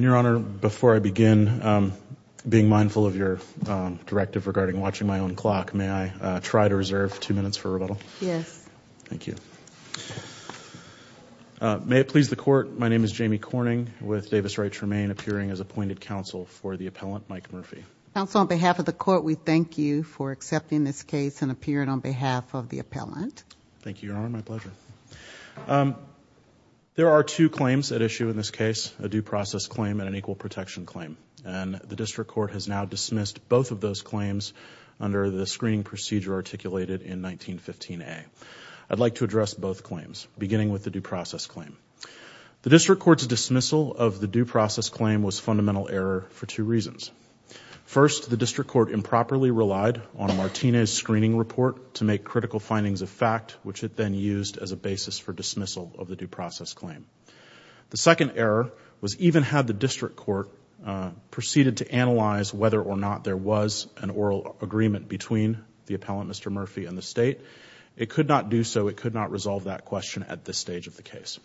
Your Honor, before I begin being mindful of your directive regarding watching my own clock, may I try to reserve two minutes for rebuttal? Yes. Thank you. May it please the Court, my name is Jamie Corning with Davis Wright Tremaine, appearing as appointed counsel for the appellant, Mike Murphy. Counsel, on behalf of the Court, we thank you for accepting this case and appearing on behalf of the appellant. Thank you, Your Honor, my pleasure. There are two claims at issue in this case, a due process claim and an equal protection claim. And the District Court has now dismissed both of those claims under the screening procedure articulated in 1915A. I'd like to address both claims, beginning with the due process claim. The District Court's dismissal of the due process claim was fundamental error for two reasons. First, the District Court improperly relied on Martinez's screening report to make critical findings of fact, which it then used as a basis for dismissal of the due process claim. The second error was even had the District Court proceeded to analyze whether or not there was an oral agreement between the appellant, Mr. Murphy, and the State, it could not do so, it could not resolve that question at this stage of the case.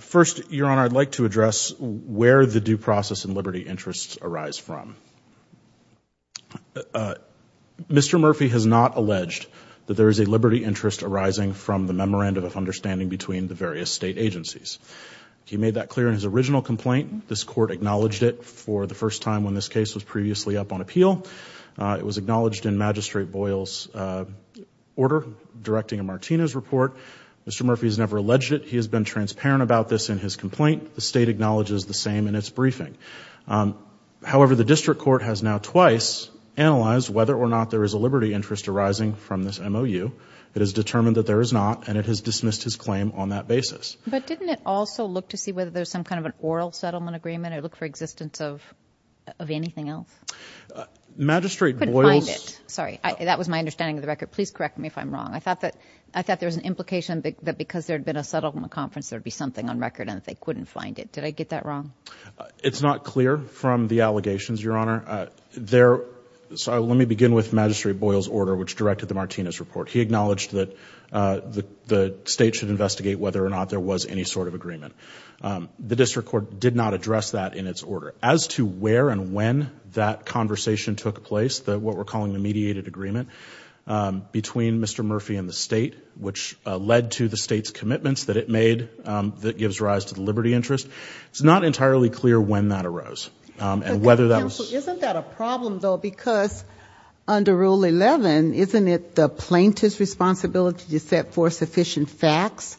First, Your Honor, I'd like to address where the due process and liberty interests arise from. Mr. Murphy has not alleged that there is a liberty interest arising from the memorandum of understanding between the various State agencies. He made that clear in his original complaint. This Court acknowledged it for the first time when this case was previously up on appeal. It was acknowledged in Magistrate Boyle's order directing a Martinez report. Mr. Murphy has never alleged it. He has been transparent about this in his complaint. The State acknowledges the same in its briefing. However, the District Court has now twice analyzed whether or not there is a liberty interest arising from this MOU. It has determined that there is not, and it has dismissed his claim on that basis. But didn't it also look to see whether there's some kind of an oral settlement agreement or look for existence of anything else? Magistrate Boyle's – I couldn't find it. Sorry. That was my understanding of the record. Please correct me if I'm wrong. I thought that – I thought there was an implication that because there had been a settlement conference, there would be something on record and that they couldn't find it. Did I get that wrong? It's not clear from the allegations, Your Honor. There – so let me begin with Magistrate Boyle's order, which directed the Martinez report. He acknowledged that the State should investigate whether or not there was any sort of agreement. The District Court did not address that in its order. As to where and when that conversation took place, what we're calling the mediated agreement, between Mr. Murphy and the State, which led to the State's commitments that it made that gives rise to the liberty interest, it's not entirely clear when that arose and whether that was – Counsel, isn't that a problem, though, because under Rule 11, isn't it the plaintiff's responsibility to set forth sufficient facts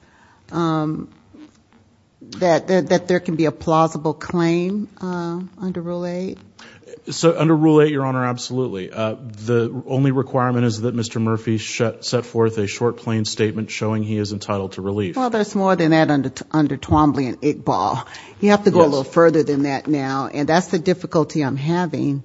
that there can be a plausible claim under Rule 8? So under Rule 8, Your Honor, absolutely. The only requirement is that Mr. Murphy set forth a short, plain statement showing he is entitled to relief. Well, there's more than that under Twombly and Iqbal. You have to go a little further than that now, and that's the difficulty I'm having.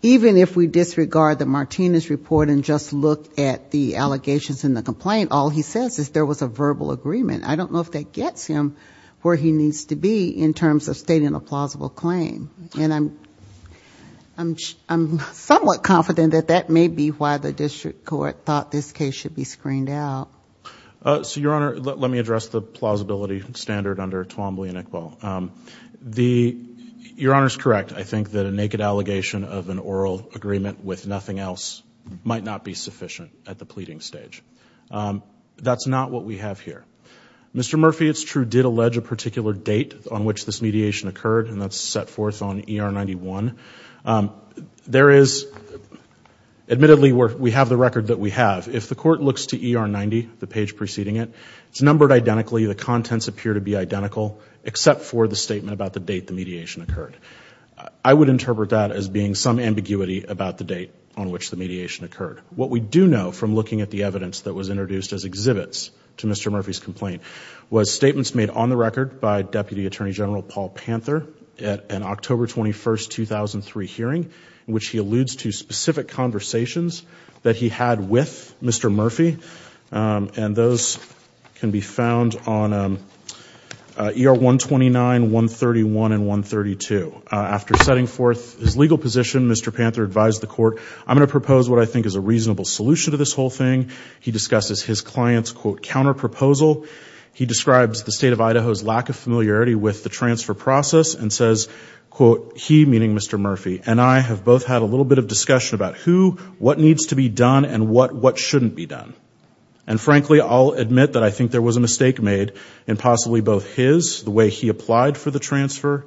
Even if we disregard the Martinez report and just look at the allegations in the complaint, all he says is there was a verbal agreement. I don't know if that gets him where he needs to be in terms of stating a plausible claim. And I'm somewhat confident that that may be why the District Court thought this case should be screened out. So, Your Honor, let me address the plausibility standard under Twombly and Iqbal. Your Honor is correct. I think that a naked allegation of an oral agreement with nothing else might not be sufficient at the pleading stage. That's not what we have here. Mr. Murphy, it's true, did allege a particular date on which this mediation occurred, and that's set forth on ER 91. There is – admittedly, we have the record that we have. If the Court looks to ER 90, the page preceding it, it's numbered identically. The contents appear to be identical except for the statement about the date the mediation occurred. I would interpret that as being some ambiguity about the date on which the mediation occurred. What we do know from looking at the evidence that was introduced as exhibits to Mr. Murphy's complaint was statements made on the record by Deputy Attorney General Paul Panther at an October 21, 2003 hearing in which he alludes to specific conversations that he had with Mr. Murphy, and those can be found on ER 129, 131, and 132. After setting forth his legal position, Mr. Panther advised the Court, I'm going to propose what I think is a reasonable solution to this whole thing. He discusses his client's, quote, counterproposal. He describes the State of Idaho's lack of familiarity with the transfer process and says, quote, he, meaning Mr. Murphy, and I have both had a little bit of discussion about who, what needs to be done, and what shouldn't be done, and frankly, I'll admit that I think there was a mistake made in possibly both his, the way he applied for the transfer,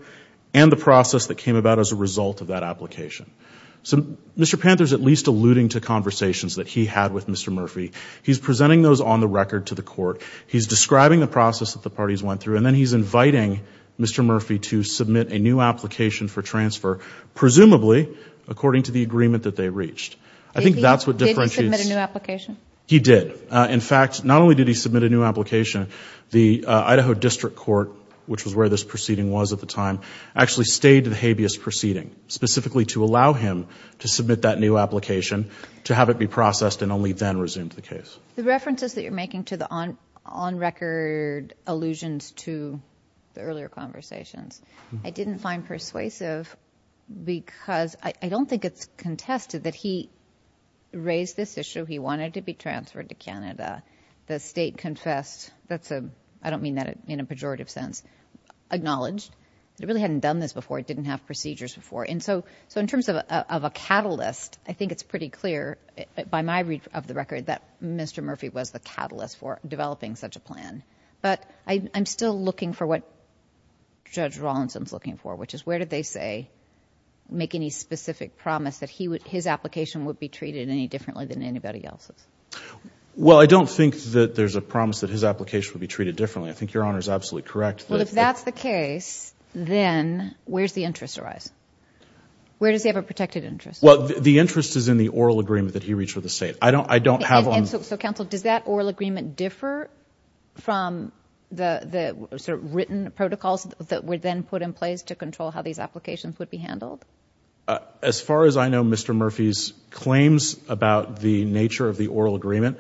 and the process that came about as a result of that application. So Mr. Panther's at least alluding to conversations that he had with Mr. Murphy. He's presenting those on the record to the Court. He's describing the process that the parties went through, and then he's inviting Mr. Murphy to submit a new application for transfer, presumably according to the agreement that they reached. I think that's what differentiates. Did he submit a new application? He did. In fact, not only did he submit a new application, the Idaho District Court, which was where this proceeding was at the time, actually stayed to the habeas proceeding, specifically to allow him to submit that new application, to have it be processed, and only then resumed the case. The references that you're making to the on-record allusions to the earlier conversations, I didn't find persuasive because I don't think it's contested that he raised this issue. He wanted to be transferred to Canada. The State confessed. That's a, I don't mean that in a pejorative sense. Acknowledged. It really hadn't done this before. It didn't have procedures before. And so in terms of a catalyst, I think it's pretty clear by my read of the record that Mr. Murphy was the catalyst for developing such a plan. But I'm still looking for what Judge Rawlinson's looking for, which is where did they say make any specific promise that his application would be treated any differently than anybody else's? Well, I don't think that there's a promise that his application would be treated differently. I think Your Honor is absolutely correct. Well, if that's the case, then where does the interest arise? Where does he have a protected interest? Well, the interest is in the oral agreement that he reached with the State. And so, Counsel, does that oral agreement differ from the sort of written protocols that were then put in place to control how these applications would be handled? As far as I know, Mr. Murphy's claims about the nature of the oral agreement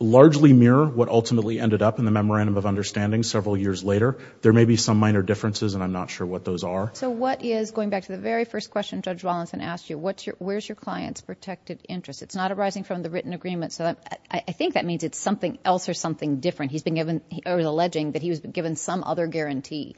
largely mirror what ultimately ended up in the memorandum of understanding several years later. There may be some minor differences, and I'm not sure what those are. So what is, going back to the very first question Judge Rawlinson asked you, where's your client's protected interest? It's not arising from the written agreement. So I think that means it's something else or something different. He's alleging that he was given some other guarantee.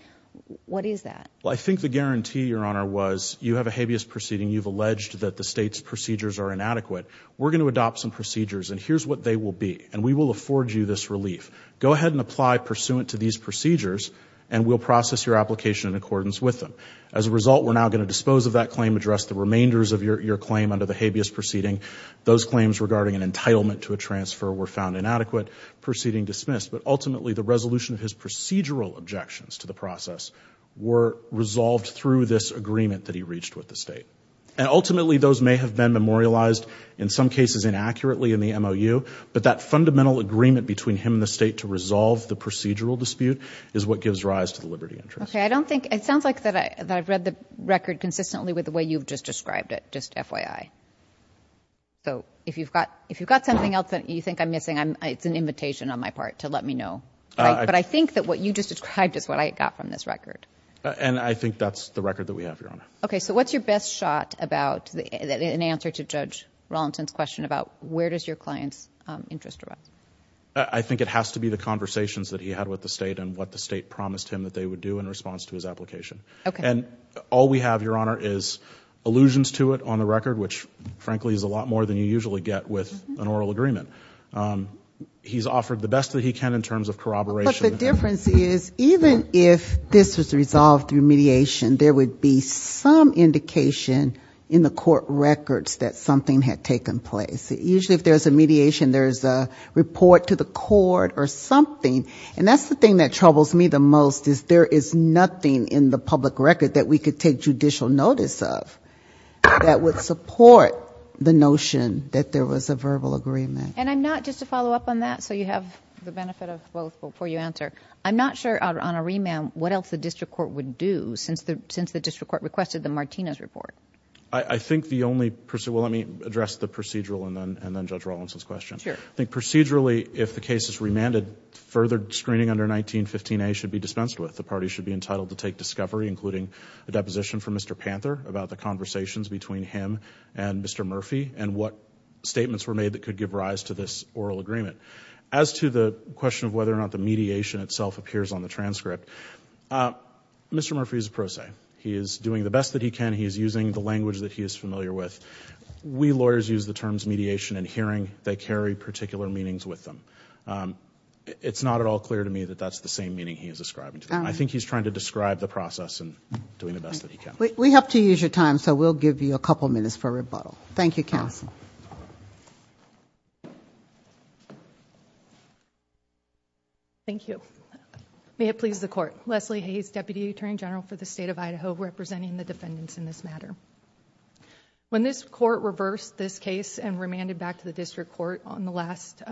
What is that? Well, I think the guarantee, Your Honor, was you have a habeas proceeding. You've alleged that the State's procedures are inadequate. We're going to adopt some procedures, and here's what they will be, and we will afford you this relief. Go ahead and apply pursuant to these procedures, and we'll process your application in accordance with them. As a result, we're now going to dispose of that claim, address the remainders of your claim under the habeas proceeding. Those claims regarding an entitlement to a transfer were found inadequate, proceeding dismissed. But ultimately, the resolution of his procedural objections to the process were resolved through this agreement that he reached with the State. And ultimately, those may have been memorialized, in some cases inaccurately in the MOU, but that fundamental agreement between him and the State to resolve the procedural dispute is what gives rise to the liberty interest. Okay. I don't think – it sounds like that I've read the record consistently with the way you've just described it, just FYI. So if you've got something else that you think I'm missing, it's an invitation on my part to let me know. But I think that what you just described is what I got from this record. And I think that's the record that we have, Your Honor. Okay. So what's your best shot about an answer to Judge Rollenton's question about where does your client's interest arise? I think it has to be the conversations that he had with the State and what the State promised him that they would do in response to his application. Okay. And all we have, Your Honor, is allusions to it on the record, which frankly is a lot more than you usually get with an oral agreement. He's offered the best that he can in terms of corroboration. But the difference is even if this was resolved through mediation, there would be some indication in the court records that something had taken place. Usually if there's a mediation, there's a report to the court or something. And that's the thing that troubles me the most, is there is nothing in the public record that we could take judicial notice of that would support the notion that there was a verbal agreement. And I'm not, just to follow up on that so you have the benefit of both before you answer, I'm not sure, Honor Rehman, what else the district court would do since the district court requested the Martinez report. I think the only, well, let me address the procedural and then Judge Rollenton's question. Sure. I think procedurally if the case is remanded, further screening under 1915A should be dispensed with. The party should be entitled to take discovery, including a deposition from Mr. Panther about the conversations between him and Mr. Murphy and what statements were made that could give rise to this oral agreement. As to the question of whether or not the mediation itself appears on the transcript, Mr. Murphy is a pro se. He is doing the best that he can. He is using the language that he is familiar with. We lawyers use the terms mediation and hearing. They carry particular meanings with them. It's not at all clear to me that that's the same meaning he is ascribing to them. I think he's trying to describe the process and doing the best that he can. We have to use your time, so we'll give you a couple minutes for rebuttal. Thank you, counsel. Thank you. May it please the Court. Leslie Hayes, Deputy Attorney General for the State of Idaho, representing the defendants in this matter. When this Court reversed this case and remanded back to the District Court on the last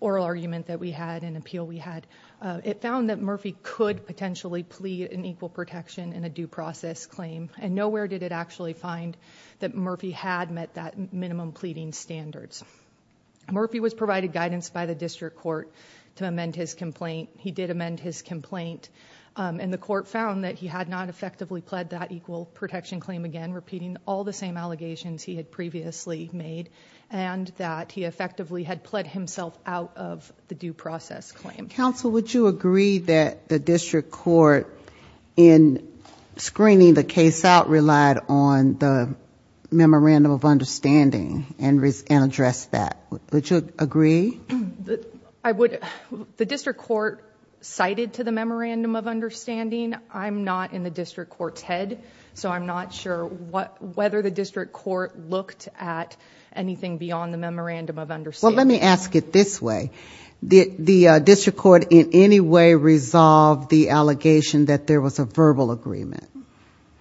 oral argument that we had and appeal we had, it found that Murphy could potentially plead an equal protection in a due process claim, and nowhere did it actually find that Murphy had met that minimum pleading standards. Murphy was provided guidance by the District Court to amend his complaint. He did amend his complaint, and the Court found that he had not effectively pled that equal protection claim again, repeating all the same allegations he had previously made, and that he effectively had pled himself out of the due process claim. Counsel, would you agree that the District Court, in screening the case out, relied on the memorandum of understanding and addressed that? Would you agree? I would... The District Court cited to the memorandum of understanding. I'm not in the District Court's head, so I'm not sure whether the District Court looked at anything beyond the memorandum of understanding. Well, let me ask it this way. Did the District Court in any way resolve the allegation that there was a verbal agreement?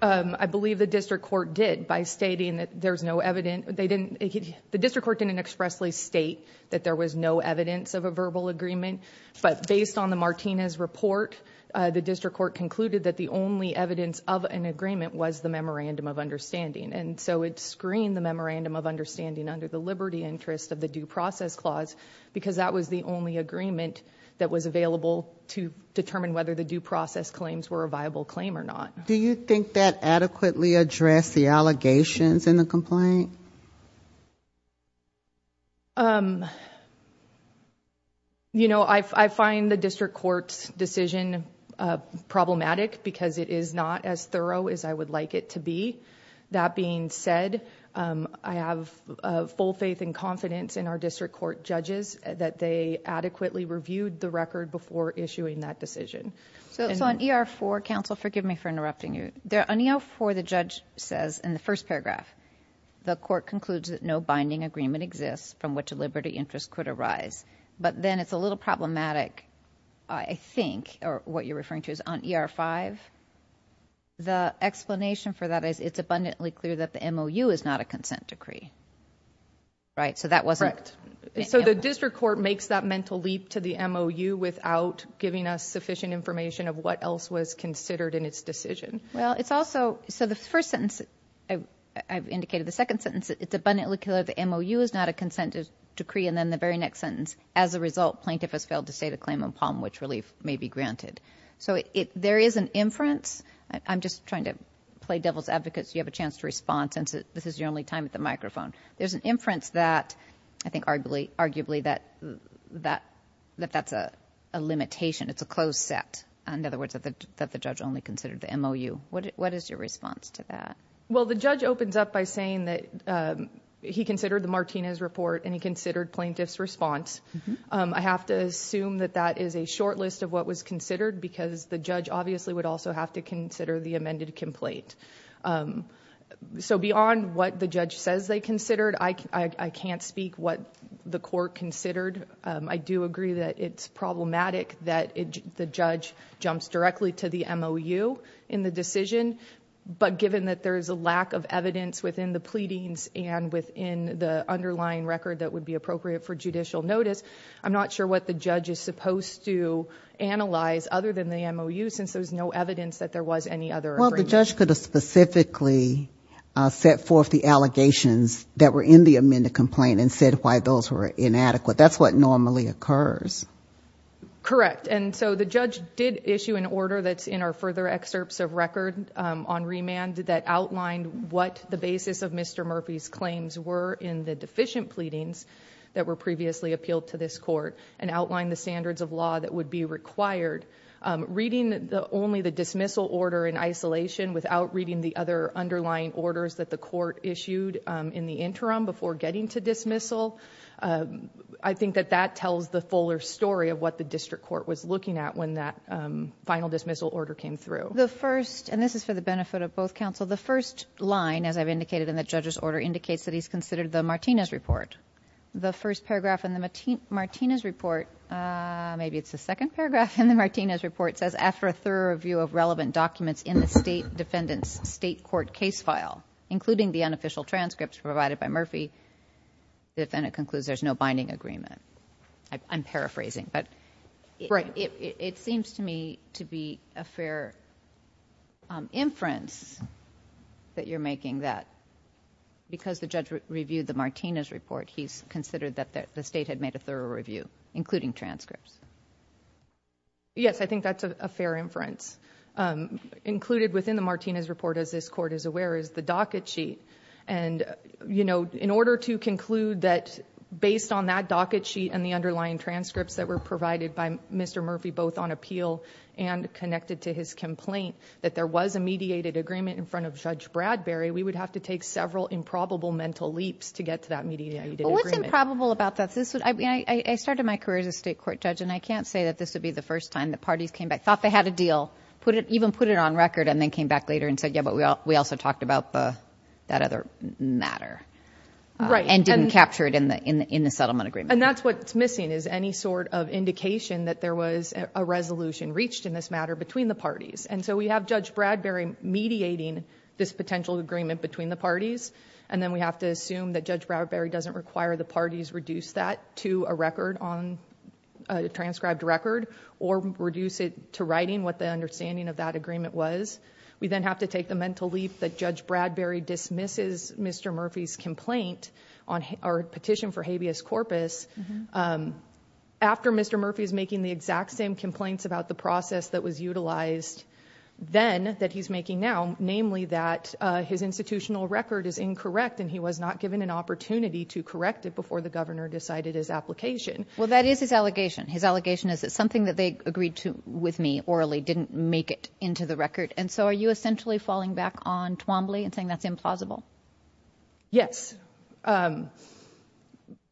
I believe the District Court did by stating that there's no evident... The District Court didn't expressly state that there was no evidence of a verbal agreement, but based on the Martinez report, the District Court concluded that the only evidence of an agreement was the memorandum of understanding, and so it screened the memorandum of understanding under the liberty interest of the due process clause because that was the only agreement that was available to determine whether the due process claims were a viable claim or not. Do you think that adequately addressed the allegations in the complaint? You know, I find the District Court's decision problematic because it is not as thorough as I would like it to be. That being said, I have full faith and confidence in our District Court judges that they adequately reviewed the record before issuing that decision. So on E.R. 4, counsel, forgive me for interrupting you. On E.R. 4, the judge says in the first paragraph, the court concludes that no binding agreement exists from which a liberty interest could arise, but then it's a little problematic, I think, or what you're referring to is on E.R. 5. The explanation for that is it's abundantly clear that the MOU is not a consent decree, right? So that wasn't... Well, it's also... So the first sentence, I've indicated the second sentence, it's abundantly clear the MOU is not a consent decree, and then the very next sentence, as a result, plaintiff has failed to state a claim on Palm Ridge Relief may be granted. So there is an inference. I'm just trying to play devil's advocate so you have a chance to respond since this is your only time at the microphone. There's an inference that, I think, arguably, that that's a limitation. It's a closed set. In other words, that the judge only considered the MOU. What is your response to that? Well, the judge opens up by saying that he considered the Martinez report and he considered plaintiff's response. I have to assume that that is a short list of what was considered because the judge obviously would also have to consider the amended complaint. So beyond what the judge says they considered, I can't speak what the court considered. I do agree that it's problematic that the judge jumps directly to the MOU in the decision, but given that there is a lack of evidence within the pleadings and within the underlying record that would be appropriate for judicial notice, I'm not sure what the judge is supposed to analyze other than the MOU since there's no evidence that there was any other agreement. Well, the judge could have specifically set forth the allegations that were in the amended complaint and said why those were inadequate. That's what normally occurs. Correct. And so the judge did issue an order that's in our further excerpts of record on remand that outlined what the basis of Mr. Murphy's claims were in the deficient pleadings that were previously appealed to this court and outlined the standards of law that would be required. Reading only the dismissal order in isolation without reading the other underlying orders that the court issued in the interim before getting to dismissal I think that that tells the fuller story of what the district court was looking at when that final dismissal order came through. The first, and this is for the benefit of both counsel, the first line, as I've indicated in the judge's order, indicates that he's considered the Martinez report. The first paragraph in the Martinez report, maybe it's the second paragraph in the Martinez report, says after a thorough review of relevant documents in the state defendant's state court case file, including the unofficial transcripts provided by Murphy, the defendant concludes there's no binding agreement. I'm paraphrasing, but it seems to me to be a fair inference that you're making that because the judge reviewed the Martinez report, he's considered that the state had made a thorough review, including transcripts. Yes, I think that's a fair inference. Included within the Martinez report, as this court is aware, is the docket sheet. In order to conclude that based on that docket sheet and the underlying transcripts that were provided by Mr. Murphy, both on appeal and connected to his complaint, that there was a mediated agreement in front of Judge Bradbury, we would have to take several improbable mental leaps to get to that mediated agreement. What's improbable about that? I started my career as a state court judge, and I can't say that this would be the first time the parties came back, thought they had a deal, even put it on record, and then came back later and said, yeah, but we also talked about that other matter and didn't capture it in the settlement agreement. That's what's missing is any sort of indication that there was a resolution reached in this matter between the parties. We have Judge Bradbury mediating this potential agreement between the parties, and then we have to assume that Judge Bradbury doesn't require the parties reduce that to a transcribed record or reduce it to writing what the understanding of that agreement was. We then have to take the mental leap that Judge Bradbury dismisses Mr. Murphy's complaint on our petition for habeas corpus after Mr. Murphy is making the exact same complaints about the process that was utilized then that he's making now, namely that his institutional record is incorrect and he was not given an opportunity to correct it before the governor decided his application. Well, that is his allegation. His allegation is that something that they agreed with me orally didn't make it into the record, and so are you essentially falling back on Twombly and saying that's implausible? Yes,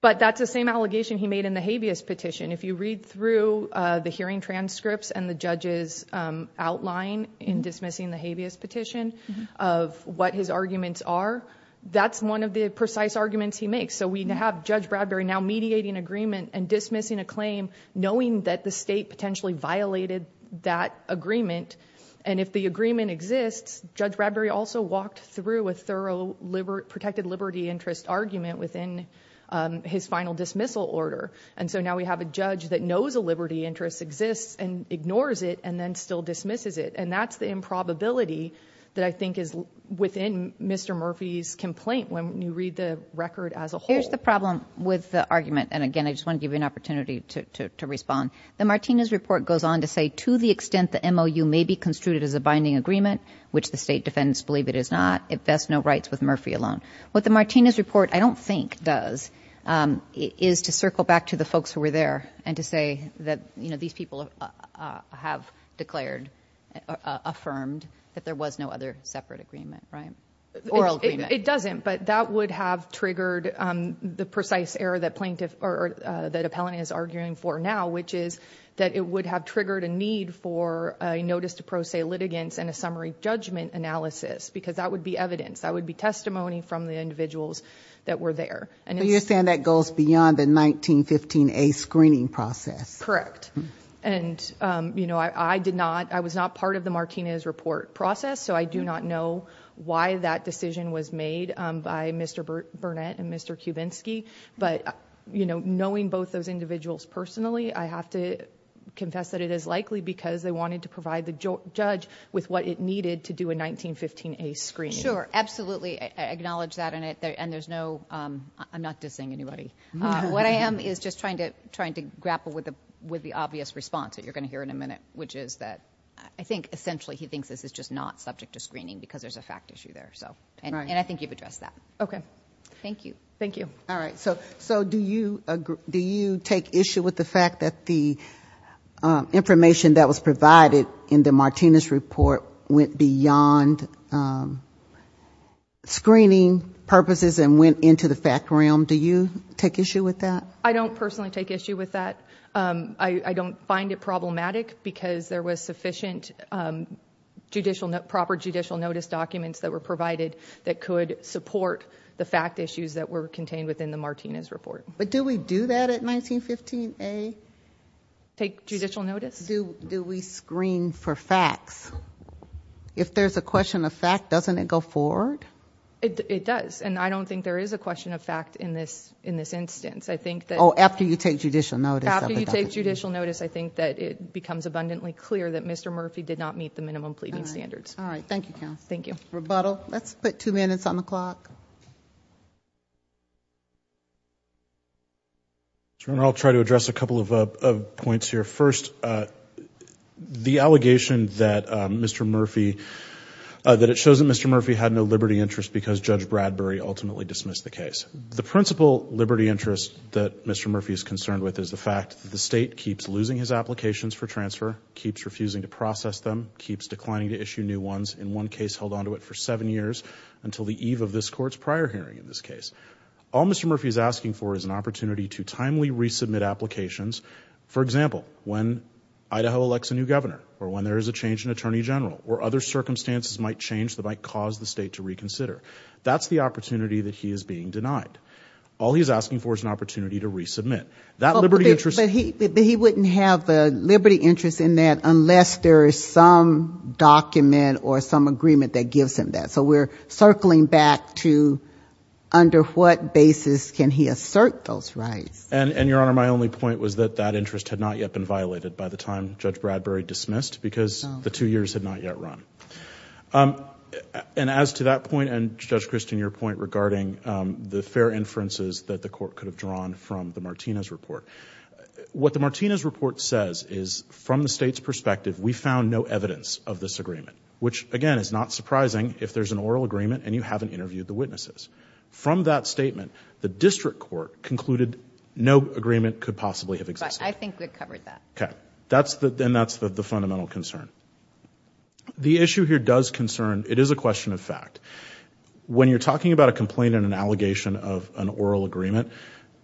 but that's the same allegation he made in the habeas petition. If you read through the hearing transcripts and the judge's outline in dismissing the habeas petition of what his arguments are, that's one of the precise arguments he makes. So we have Judge Bradbury now mediating agreement and dismissing a claim knowing that the state potentially violated that agreement, and if the agreement exists, Judge Bradbury also walked through a thorough protected liberty interest argument within his final dismissal order. And so now we have a judge that knows a liberty interest exists and ignores it and then still dismisses it, and that's the improbability that I think is within Mr. Murphy's complaint when you read the record as a whole. Here's the problem with the argument, and, again, I just want to give you an opportunity to respond. The Martinez report goes on to say to the extent the MOU may be construed as a binding agreement, which the state defendants believe it is not, it vests no rights with Murphy alone. What the Martinez report I don't think does is to circle back to the folks who were there and to say that these people have declared, affirmed that there was no other separate agreement, right? Oral agreement. It doesn't, but that would have triggered the precise error that the appellant is arguing for now, which is that it would have triggered a need for a notice to pro se litigants and a summary judgment analysis because that would be evidence. That would be testimony from the individuals that were there. So you're saying that goes beyond the 1915A screening process? Correct. And, you know, I was not part of the Martinez report process, so I do not know why that decision was made by Mr. Burnett and Mr. Kubinski, but, you know, knowing both those individuals personally, I have to confess that it is likely because they wanted to provide the judge with what it needed to do a 1915A screening. Sure. Absolutely. I acknowledge that, and there's no, I'm not dissing anybody. What I am is just trying to grapple with the obvious response that you're going to hear in a minute, which is that I think essentially he thinks this is just not subject to screening because there's a fact issue there. And I think you've addressed that. Okay. Thank you. Thank you. All right. So do you take issue with the fact that the information that was provided in the Martinez report went beyond screening purposes and went into the fact realm? Do you take issue with that? I don't personally take issue with that. I don't find it problematic because there was sufficient proper judicial notice documents that were provided that could support the fact issues that were contained within the Martinez report. But do we do that at 1915A? Take judicial notice? Do we screen for facts? If there's a question of fact, doesn't it go forward? It does, and I don't think there is a question of fact in this instance. Oh, after you take judicial notice. After you take judicial notice, I think that it becomes abundantly clear that Mr. Murphy did not meet the minimum pleading standards. All right. Thank you, counsel. Thank you. Rebuttal. Let's put two minutes on the clock. I'll try to address a couple of points here. First, the allegation that it shows that Mr. Murphy had no liberty interest because Judge Bradbury ultimately dismissed the case. The principal liberty interest that Mr. Murphy is concerned with is the fact that the state keeps losing his applications for transfer, keeps refusing to process them, keeps declining to issue new ones, in one case held onto it for seven years until the eve of this Court's prior hearing in this case. All Mr. Murphy is asking for is an opportunity to timely resubmit applications. For example, when Idaho elects a new governor or when there is a change in Attorney General or other circumstances might change that might cause the state to reconsider, that's the opportunity that he is being denied. All he's asking for is an opportunity to resubmit. But he wouldn't have a liberty interest in that unless there is some document or some agreement that gives him that. So we're circling back to under what basis can he assert those rights? And, Your Honor, my only point was that that interest had not yet been violated by the time Judge Bradbury dismissed because the two years had not yet run. And as to that point and, Judge Christian, your point regarding the fair inferences that the Court could have drawn from the Martinez report, what the Martinez report says is from the state's perspective we found no evidence of this agreement, which, again, is not surprising if there's an oral agreement and you haven't interviewed the witnesses. From that statement, the district court concluded no agreement could possibly have existed. But I think we've covered that. Okay. And that's the fundamental concern. The issue here does concern. It is a question of fact. When you're talking about a complaint and an allegation of an oral agreement,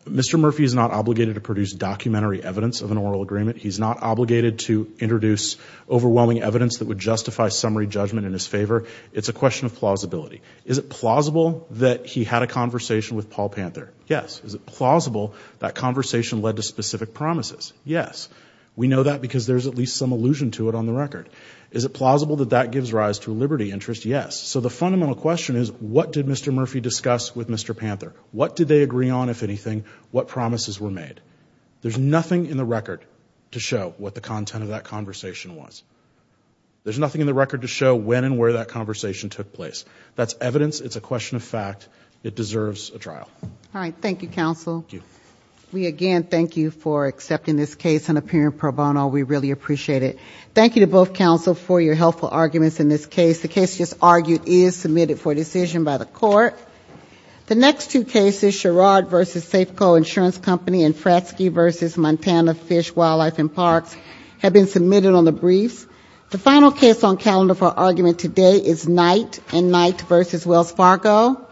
Mr. Murphy is not obligated to produce documentary evidence of an oral agreement. He's not obligated to introduce overwhelming evidence that would justify summary judgment in his favor. It's a question of plausibility. Is it plausible that he had a conversation with Paul Panther? Yes. Is it plausible that conversation led to specific promises? Yes. We know that because there's at least some allusion to it on the record. Is it plausible that that gives rise to a liberty interest? Yes. So the fundamental question is what did Mr. Murphy discuss with Mr. Panther? What did they agree on, if anything? What promises were made? There's nothing in the record to show what the content of that conversation was. There's nothing in the record to show when and where that conversation took place. That's evidence. It's a question of fact. It deserves a trial. All right. Thank you, counsel. Thank you. Ms. Murphy, again, thank you for accepting this case and appearing pro bono. We really appreciate it. Thank you to both counsel for your helpful arguments in this case. The case just argued is submitted for decision by the court. The next two cases, Sherrod v. Safeco Insurance Company and Fratzke v. Montana Fish, Wildlife and Parks, have been submitted on the briefs. The final case on calendar for argument today is Knight and Knight v. Wells Fargo. Thank you.